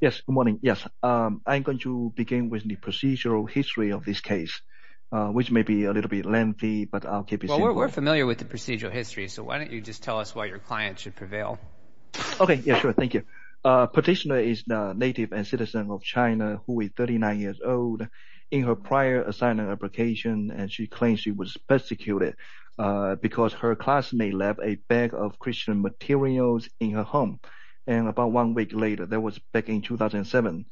Yes, good morning. Yes, I'm going to begin with the procedural history of this case, which may be a little bit lengthy, but I'll keep it simple. Well, we're familiar with the procedural history, so why don't you just tell us why your client should prevail? Okay, yeah, sure. Thank you. Petitioner is a native and citizen of China who is 39 years old. In her prior assignment application, she claimed she was persecuted because her classmate left a bag of Christian materials in her home. And about one week later, that was back in 2007,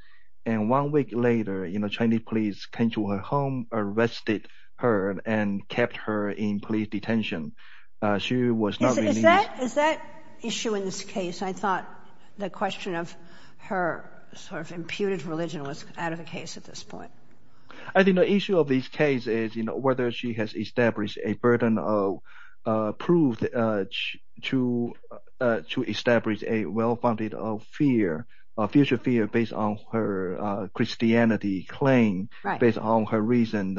and one week later, you know, Chinese police came to her home, arrested her, and kept her in police detention. She was not... Is that issue in this case? I thought the question of her sort of imputed religion was out of the case at this point. I think the issue of this case is, you know, whether she has established a burden of proof to establish a well-founded fear, a future fear based on her Christianity claim, based on her recent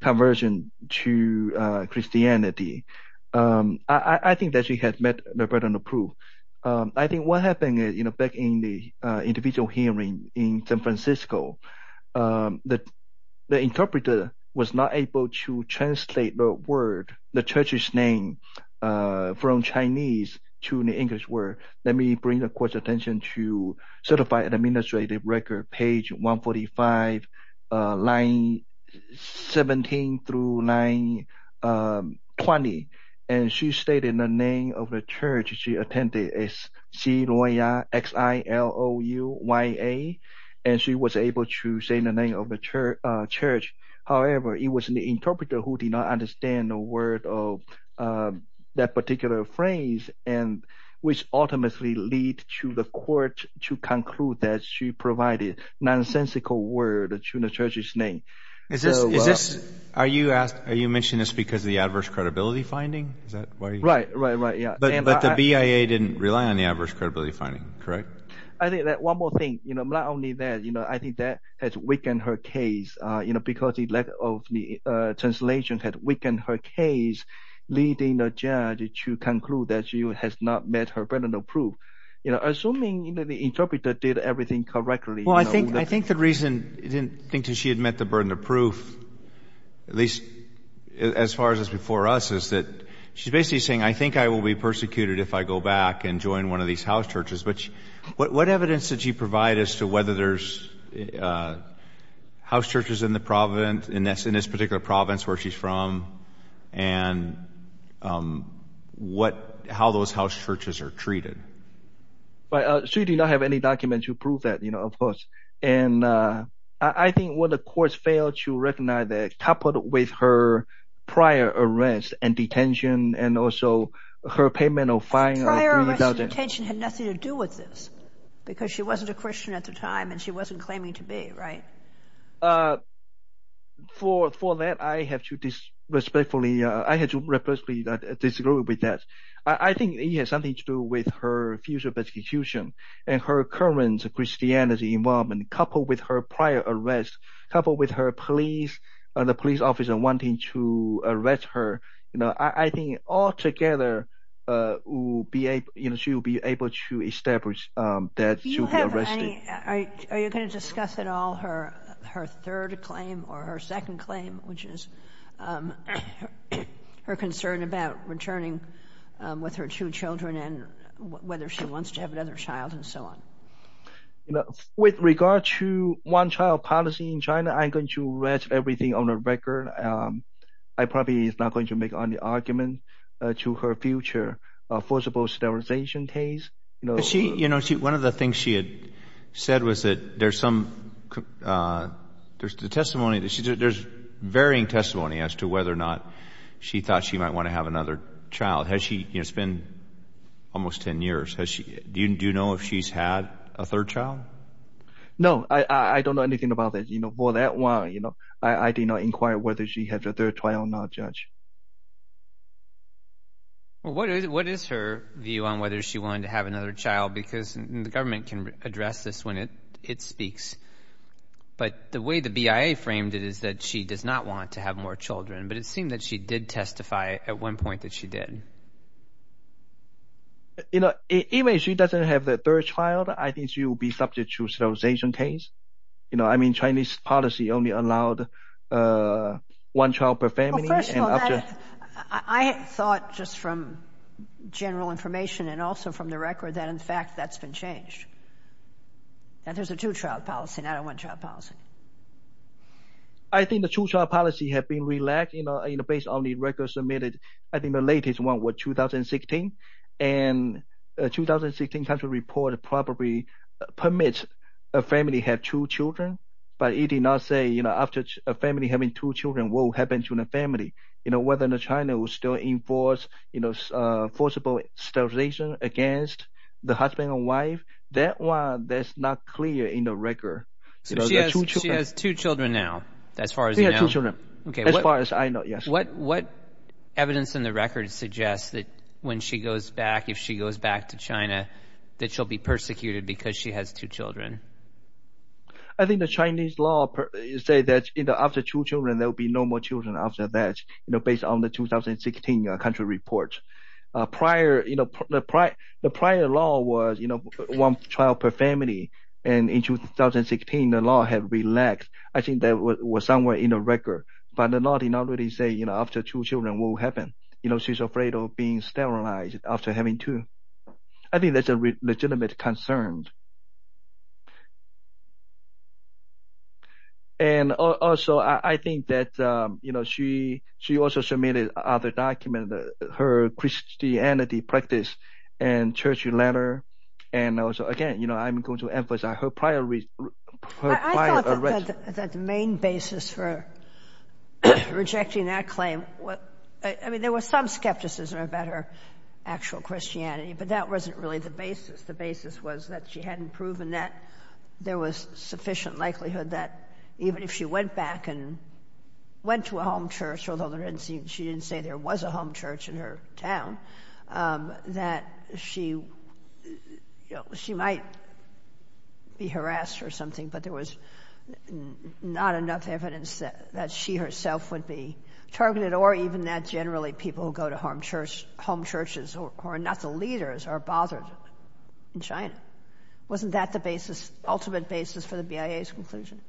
conversion to Christianity. I think that she has met the burden of proof. I think what happened, you know, back in the individual hearing in San Francisco, the interpreter was not able to translate the word, the church's name, from Chinese to the English word. Let me bring the court's attention to Certified Administrative Record, page 145, line 17 through line 20. And she stated the name of the church she attended is Xilouya, X-I-L-O-U-Y-A, and she was able to say the name of the church. However, it was the interpreter who did not understand the word of that particular phrase, which ultimately lead to the court to conclude that she provided nonsensical word to the church's name. Are you mentioning this because of the adverse credibility finding? Right, right, right, yeah. But the BIA didn't rely on the adverse credibility finding, correct? I think that one more thing, you know, not only that, you know, I think that has weakened her case, you know, because the lack of the translation had weakened her case, leading the judge to conclude that she has not met her burden of proof. You know, assuming, you know, the interpreter did everything correctly. Well, I think the reason I didn't think she had met the burden of proof, at least as far as before us, is that she's basically saying, I think I will be persecuted if I go back and join one of these house churches. But what evidence did she provide as to whether there's house churches in the province, in this particular province where she's from, and how those house churches are treated? Well, she did not have any document to prove that, you know, of course. And I think what the courts failed to recognize that coupled with her prior arrest and detention, and also her payment of fines. Her prior arrest and detention had nothing to do with this, because she wasn't a Christian at the time, and she wasn't claiming to be, right? For that, I have to respectfully, I had to respectfully disagree with that. I think it has something to do with her future persecution, and her current Christianity involvement, coupled with her prior arrest, coupled with her police, the police officer wanting to arrest her. You know, I think all together, you know, she'll be able to establish that she'll be arrested. Do you have any, are you going to discuss at all her third claim or her second claim, which is her concern about returning with her two children, whether she wants to have another child, and so on? With regard to one-child policy in China, I'm going to rest everything on the record. I probably am not going to make any argument to her future forcible sterilization case. One of the things she had said was that there's some, there's the testimony, there's varying testimony as to whether or not she thought she might want to have another child. You know, it's been almost 10 years. Do you know if she's had a third child? No, I don't know anything about that. You know, for that one, you know, I did not inquire whether she had a third child or not, Judge. Well, what is her view on whether she wanted to have another child? Because the government can address this when it speaks. But the way the BIA framed it is that she does not want to have more children, but it seemed that she did testify at one point that she did. You know, even if she doesn't have the third child, I think she will be subject to sterilization case. You know, I mean, Chinese policy only allowed one child per family. Well, first of all, I thought just from general information and also from the record that, in fact, that's been changed. That there's a two-child policy, not a one-child policy. I think the two-child policy has been relaxed, you know, based on the records submitted. I think the latest one was 2016. And the 2016 country report probably permits a family to have two children. But it did not say, you know, after a family having two children, what will happen to the family. You know, whether China will still enforce, you know, forcible sterilization against the husband and wife. That one, that's not clear in the record. So she has two children now, as far as you know. She has two children, as far as I know, yes. What evidence in the record suggests that when she goes back, if she goes back to China, that she'll be persecuted because she has two children? I think the Chinese law say that, you know, after two children, there will be no more children after that, you know, based on the 2016 country report. The prior law was, you know, one child per family. And in 2016, the law had relaxed. I think that was somewhere in the record. But the law did not really say, you know, after two children, what will happen. You know, she's afraid of being sterilized after having two. I think that's a legitimate concern. And also, I think that, you know, she also submitted other documents, her Christianity practice and church letter. And also, again, you know, I'm going to emphasize her prior arrest. I thought that the main basis for rejecting that claim was, I mean, there was some skepticism about her actual Christianity, but that wasn't really the basis. The basis was that she hadn't proven that there was sufficient likelihood that even if she went back and went to a home church, although she didn't say there was a home church in her town, that she might be harassed or something. But there was not enough evidence that she herself would be targeted, or even that generally people who go to home churches or are not the leaders are bothered in China. Wasn't that the ultimate basis for the BIA's conclusion?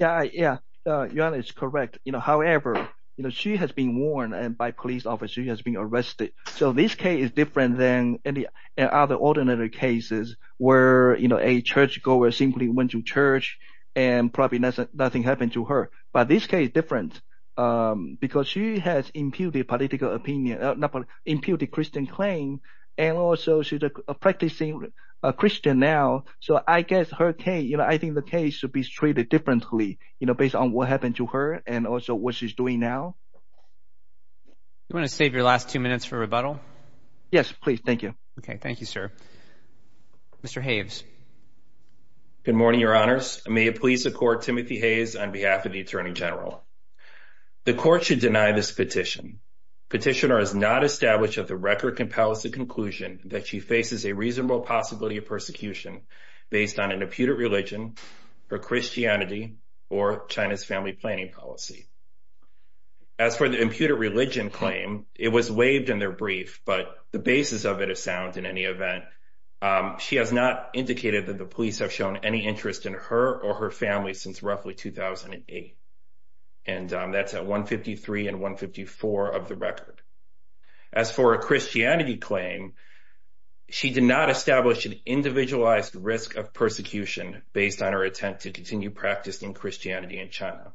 Yeah, yeah, you're correct. You know, however, you know, she has been warned by police officers. She has been arrested. So this case is different than any other ordinary cases where, you know, a churchgoer simply went to church and probably nothing happened to her. But this case is different because she has imputed political opinion, not political, imputed Christian claim. And also she's a practicing Christian now. So I guess her case, you know, I think the case should be treated differently, you know, based on what happened to her and also what she's doing now. You want to save your last two minutes for rebuttal? Yes, please. Thank you. Okay. Thank you, sir. Mr. Hayes. Good morning, Your Honors. May it please the court, Timothy Hayes, on behalf of the Attorney General. The court should deny this petition. Petitioner has not established at the record compels the conclusion that she faces a reasonable possibility of persecution based on an imputed religion, her Christianity, or China's family planning policy. As for the imputed religion claim, it was waived in their brief, but the basis of it is sound in any event. She has not indicated that the police have shown any interest in her or her family since roughly 2008. And that's at 153 and 154 of the record. As for a Christianity claim, she did not establish an individualized risk of persecution based on her attempt to continue practicing Christianity in China.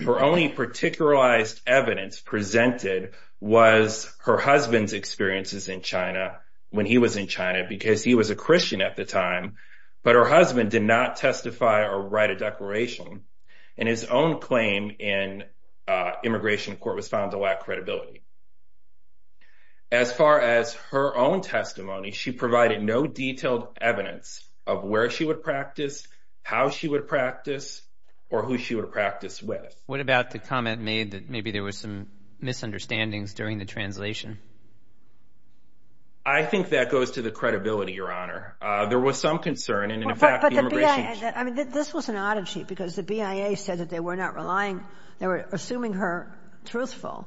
Her only particularized evidence presented was her husband's experiences in China when he was in China because he was a Christian at the time, but her husband did not testify or write a declaration. And his own claim in immigration court was found to lack credibility. As far as her own testimony, she provided no detailed evidence of where she would practice, how she would practice, or who she would practice with. What about the comment made that maybe there was some misunderstandings during the translation? I think that goes to the credibility, Your Honor. There was some concern, and in fact, the immigration... I mean, this was an oddity because the BIA said that they were not relying, they were assuming her truthful.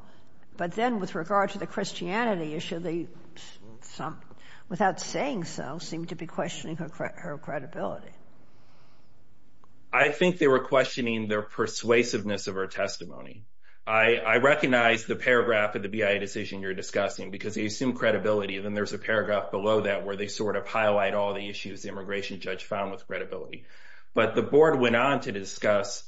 But then with regard to the Christianity issue, they, without saying so, seemed to be questioning her credibility. I think they were questioning their persuasiveness of her testimony. I recognize the paragraph of the BIA decision you're discussing because they assume credibility, and then there's a paragraph below that where they sort of highlight all the issues the immigration judge found with credibility. But the board went on to discuss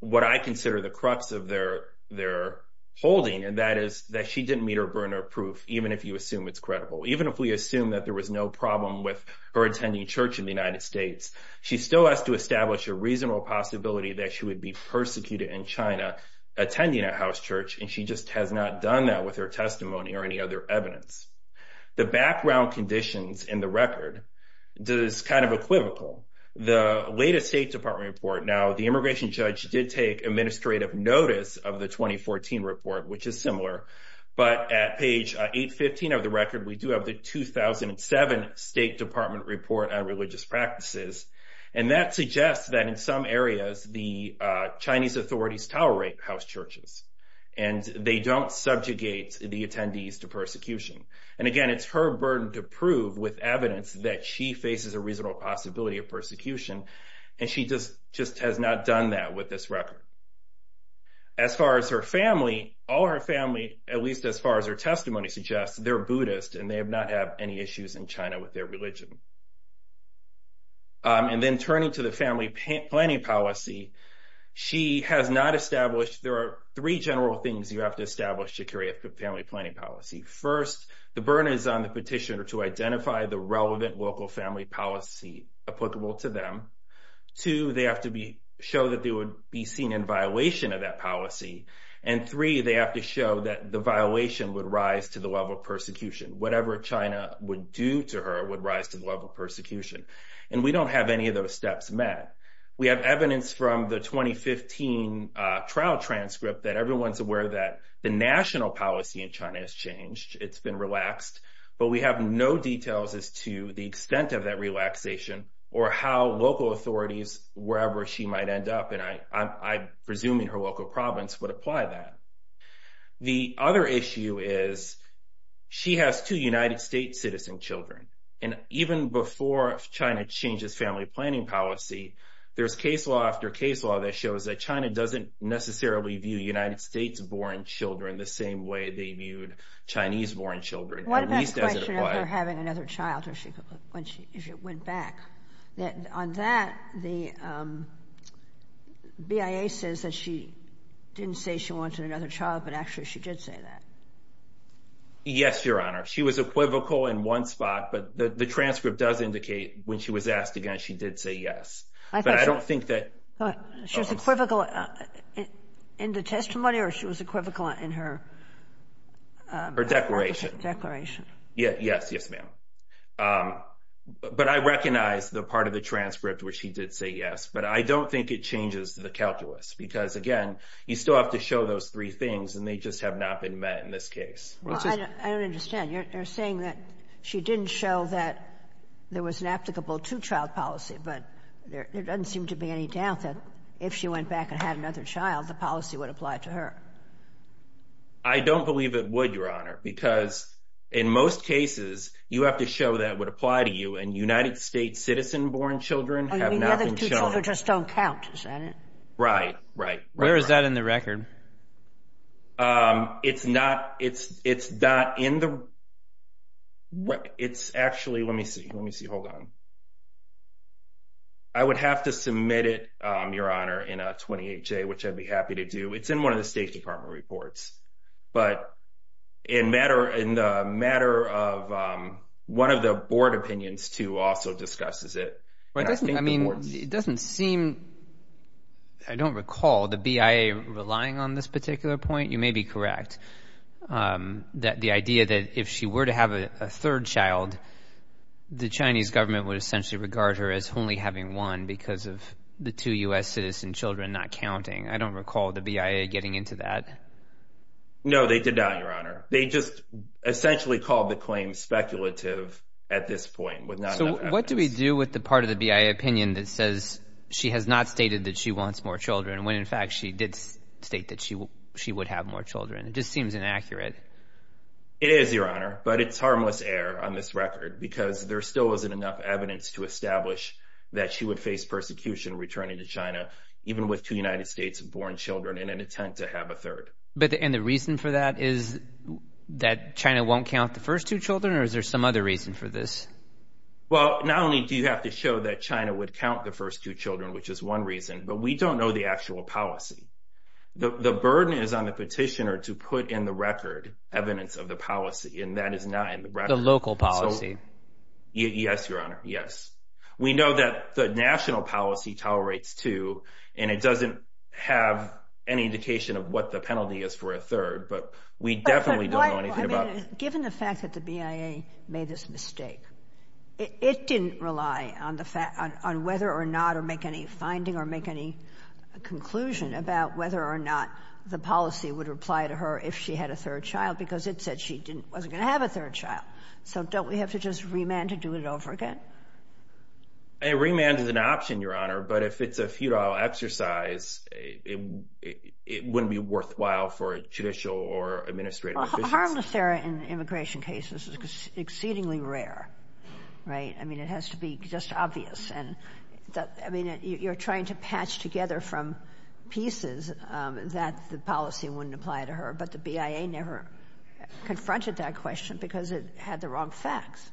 what I consider the crux of their holding, and that is that she didn't meet her burner of proof, even if you assume it's credible. Even if we assume that there was no problem with her attending church in the United States, she still has to establish a reasonable possibility that she would be persecuted in China attending a house church, and she just has not done that with her testimony or any other evidence. The background conditions in the record is kind of equivocal. The latest State Department report... Now, the immigration judge did take administrative notice of the 2014 report, which is similar, but at page 815 of the record, we do have the 2007 State Department report on religious practices, and that suggests that in some areas the Chinese authorities tolerate house churches, and they don't subjugate the attendees to persecution. And again, it's her burden to prove with evidence that she faces a reasonable possibility of persecution, and she just has not done that with this record. As far as her family, all her family, at least as far as her testimony suggests, they're Buddhist, and they have not had any issues in China with their religion. And then turning to the family planning policy, she has not established... There are three general things you have to establish to carry out the family planning policy. First, the burden is on the petitioner to identify the relevant local family policy applicable to them. Two, they have to show that they would be seen in violation of that policy. And three, they have to show that the violation would rise to the level of persecution. Whatever China would do to her would rise to the level of persecution. And we don't have any of those steps met. We have evidence from the 2015 trial transcript that everyone's aware that the national policy in China has changed. It's been relaxed, but we have no details as to the extent of that relaxation or how local authorities, wherever she might end up, and I'm presuming her local province would apply that. The other issue is she has two United States citizen children. Even before China changes family planning policy, there's case law after case law that shows that China doesn't necessarily view United States-born children the same way they viewed Chinese-born children. One last question after having another child, or if she went back. On that, the BIA says that she didn't say she wanted another child, but actually she did say that. Yes, Your Honor. She was equivocal in one spot, but the transcript does indicate when she was asked again, she did say yes. But I don't think that... She was equivocal in the testimony or she was equivocal in her... Her declaration. Yes, yes, ma'am. But I recognize the part of the transcript where she did say yes, but I don't think it changes the calculus because, again, you still have to show those three things and they just have not been met in this case. I don't understand. You're saying that she didn't show that there was an applicable two-child policy, but there doesn't seem to be any doubt that if she went back and had another child, the policy would apply to her. I don't believe it would, Your Honor, because in most cases, you have to show that would apply to you and United States-citizen-born children have not been shown. The other two children just don't count, is that it? Right, right, right. Where is that in the record? It's not in the... It's actually... Let me see. Let me see. Hold on. I would have to submit it, Your Honor, in a 28-J, which I'd be happy to do. It's in one of the State Department reports. But in the matter of... One of the board opinions, too, also discusses it. I mean, it doesn't seem... I don't recall the BIA relying on it. On this particular point, you may be correct. The idea that if she were to have a third child, the Chinese government would essentially regard her as only having one because of the two U.S. citizen children not counting. I don't recall the BIA getting into that. No, they did not, Your Honor. They just essentially called the claim speculative at this point. What do we do with the part of the BIA opinion that says she has not stated that she wants more children when, in fact, she did state that she would have more children? It just seems inaccurate. It is, Your Honor. But it's harmless error on this record because there still isn't enough evidence to establish that she would face persecution returning to China, even with two United States-born children in an attempt to have a third. And the reason for that is that China won't count the first two children? Or is there some other reason for this? Well, not only do you have to show that China would count the first two children, which is one reason, but we don't know the actual policy. The burden is on the petitioner to put in the record evidence of the policy, and that is not in the record. The local policy. Yes, Your Honor, yes. We know that the national policy tolerates two, and it doesn't have any indication of what the penalty is for a third, but we definitely don't know anything about it. Given the fact that the BIA made this mistake, it didn't rely on whether or not to make any finding or make any conclusion about whether or not the policy would reply to her if she had a third child, because it said she wasn't going to have a third child. So don't we have to just remand to do it over again? A remand is an option, Your Honor, but if it's a futile exercise, it wouldn't be worthwhile for judicial or administrative efficiency. Harmless error in immigration cases is exceedingly rare, right? I mean, it has to be just obvious. And I mean, you're trying to patch together from pieces that the policy wouldn't apply to her, but the BIA never confronted that question because it had the wrong facts.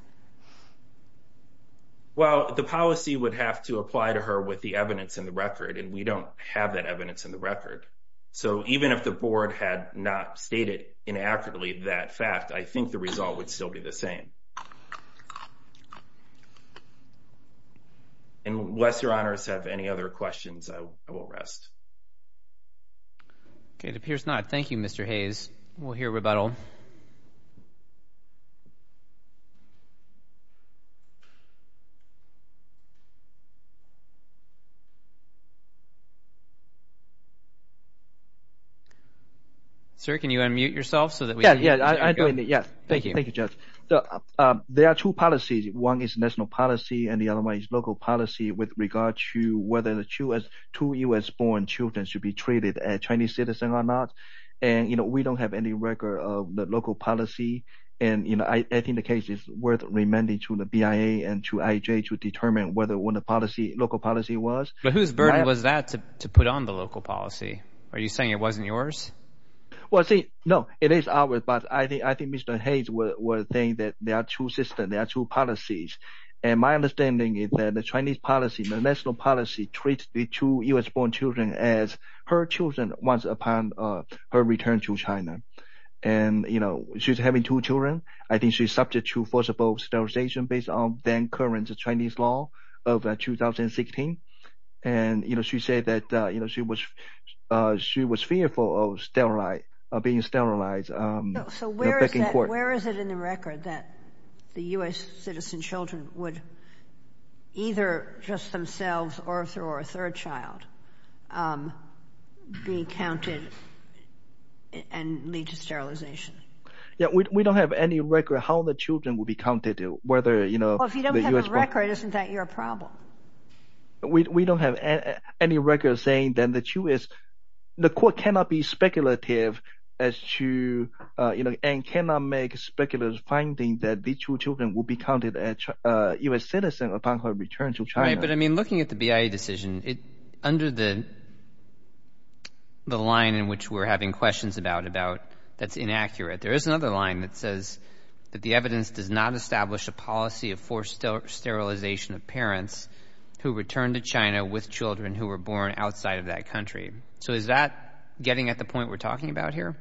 Well, the policy would have to apply to her with the evidence in the record, and we don't have that evidence in the record. So even if the board had not stated inaccurately that fact, I think the result would still be the same. Unless Your Honors have any other questions, I will rest. Okay, it appears not. Thank you, Mr. Hayes. We'll hear rebuttal. Sir, can you unmute yourself so that we can hear you? Yeah, yeah, I'm doing it, yeah. Thank you. Thank you, Judge. There are two policies. One is national policy, and the other one is local policy with regard to whether the two U.S.-born children should be treated as Chinese citizens or not. And we don't have any record of the local policy. And I think the case is worth remanding to the BIA and to IJ to determine what the local policy was. But whose burden was that to put on the local policy? Are you saying it wasn't yours? Well, see, no, it is ours. But I think Mr. Hayes was saying that there are two systems, there are two policies. And my understanding is that the Chinese policy, the national policy treats the two U.S.-born children as her children once upon her return to China. And, you know, she's having two children. I think she's subject to forcible sterilization based on then current Chinese law of 2016. And, you know, she said that, you know, she was fearful of being sterilized. So where is it in the record that the U.S. citizen children would either just themselves or a third child be counted and lead to sterilization? Yeah, we don't have any record how the children will be counted. Whether, you know, the U.S. Well, if you don't have a record, isn't that your problem? We don't have any record saying that the two is, the court cannot be speculative as to, you know, and cannot make speculative finding that the two children will be counted as U.S. citizen upon her return to China. Right, but I mean, looking at the BIA decision, under the line in which we're having questions about, about that's inaccurate, there is another line that says that the evidence does not establish a policy of forced sterilization of parents who returned to China with children who were born outside of that country. So is that getting at the point we're talking about here?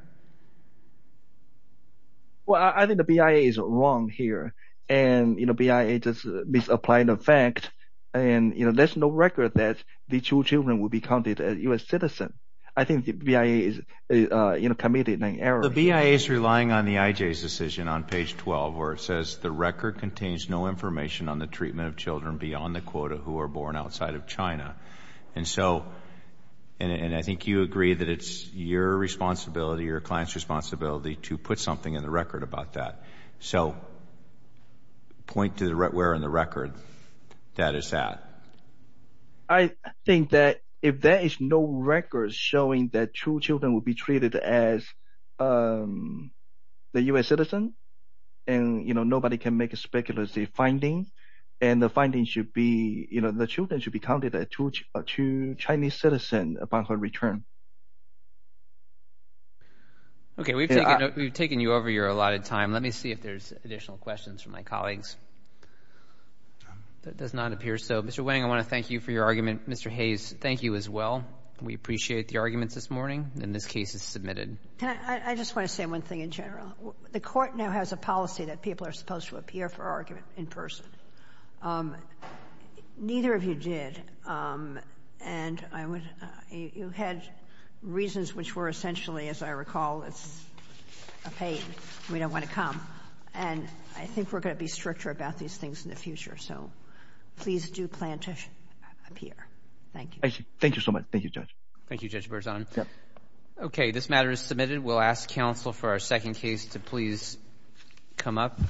Well, I think the BIA is wrong here. And, you know, BIA just misapplied the fact. And, you know, there's no record that the two children will be counted as U.S. citizen. I think the BIA is, you know, committed an error. The BIA is relying on the IJ's decision on page 12, where it says the record contains no information on the treatment of children beyond the quota who are born outside of China. And so, and I think you agree that it's your responsibility, your client's responsibility to put something in the record about that. So point to where in the record that is at. I think that if there is no record showing that two children will be treated as the U.S. citizen, and, you know, nobody can make a speculative finding, and the finding should be, you know, the children should be counted as two Chinese citizen upon her return. Okay, we've taken you over your allotted time. Let me see if there's additional questions from my colleagues. That does not appear so. Mr. Wang, I want to thank you for your argument. Mr. Hayes, thank you as well. We appreciate the arguments this morning, and this case is submitted. Can I, I just want to say one thing in general. The court now has a policy that people are supposed to appear for argument in person. Neither of you did. And I would, you had reasons which were essentially, as I recall, it's a pain. We don't want to come. And I think we're going to be stricter about these things in the future. So please do plan to appear. Thank you. Thank you so much. Thank you, Judge. Thank you, Judge Berzon. Okay, this matter is submitted. We'll ask counsel for our second case to please come up.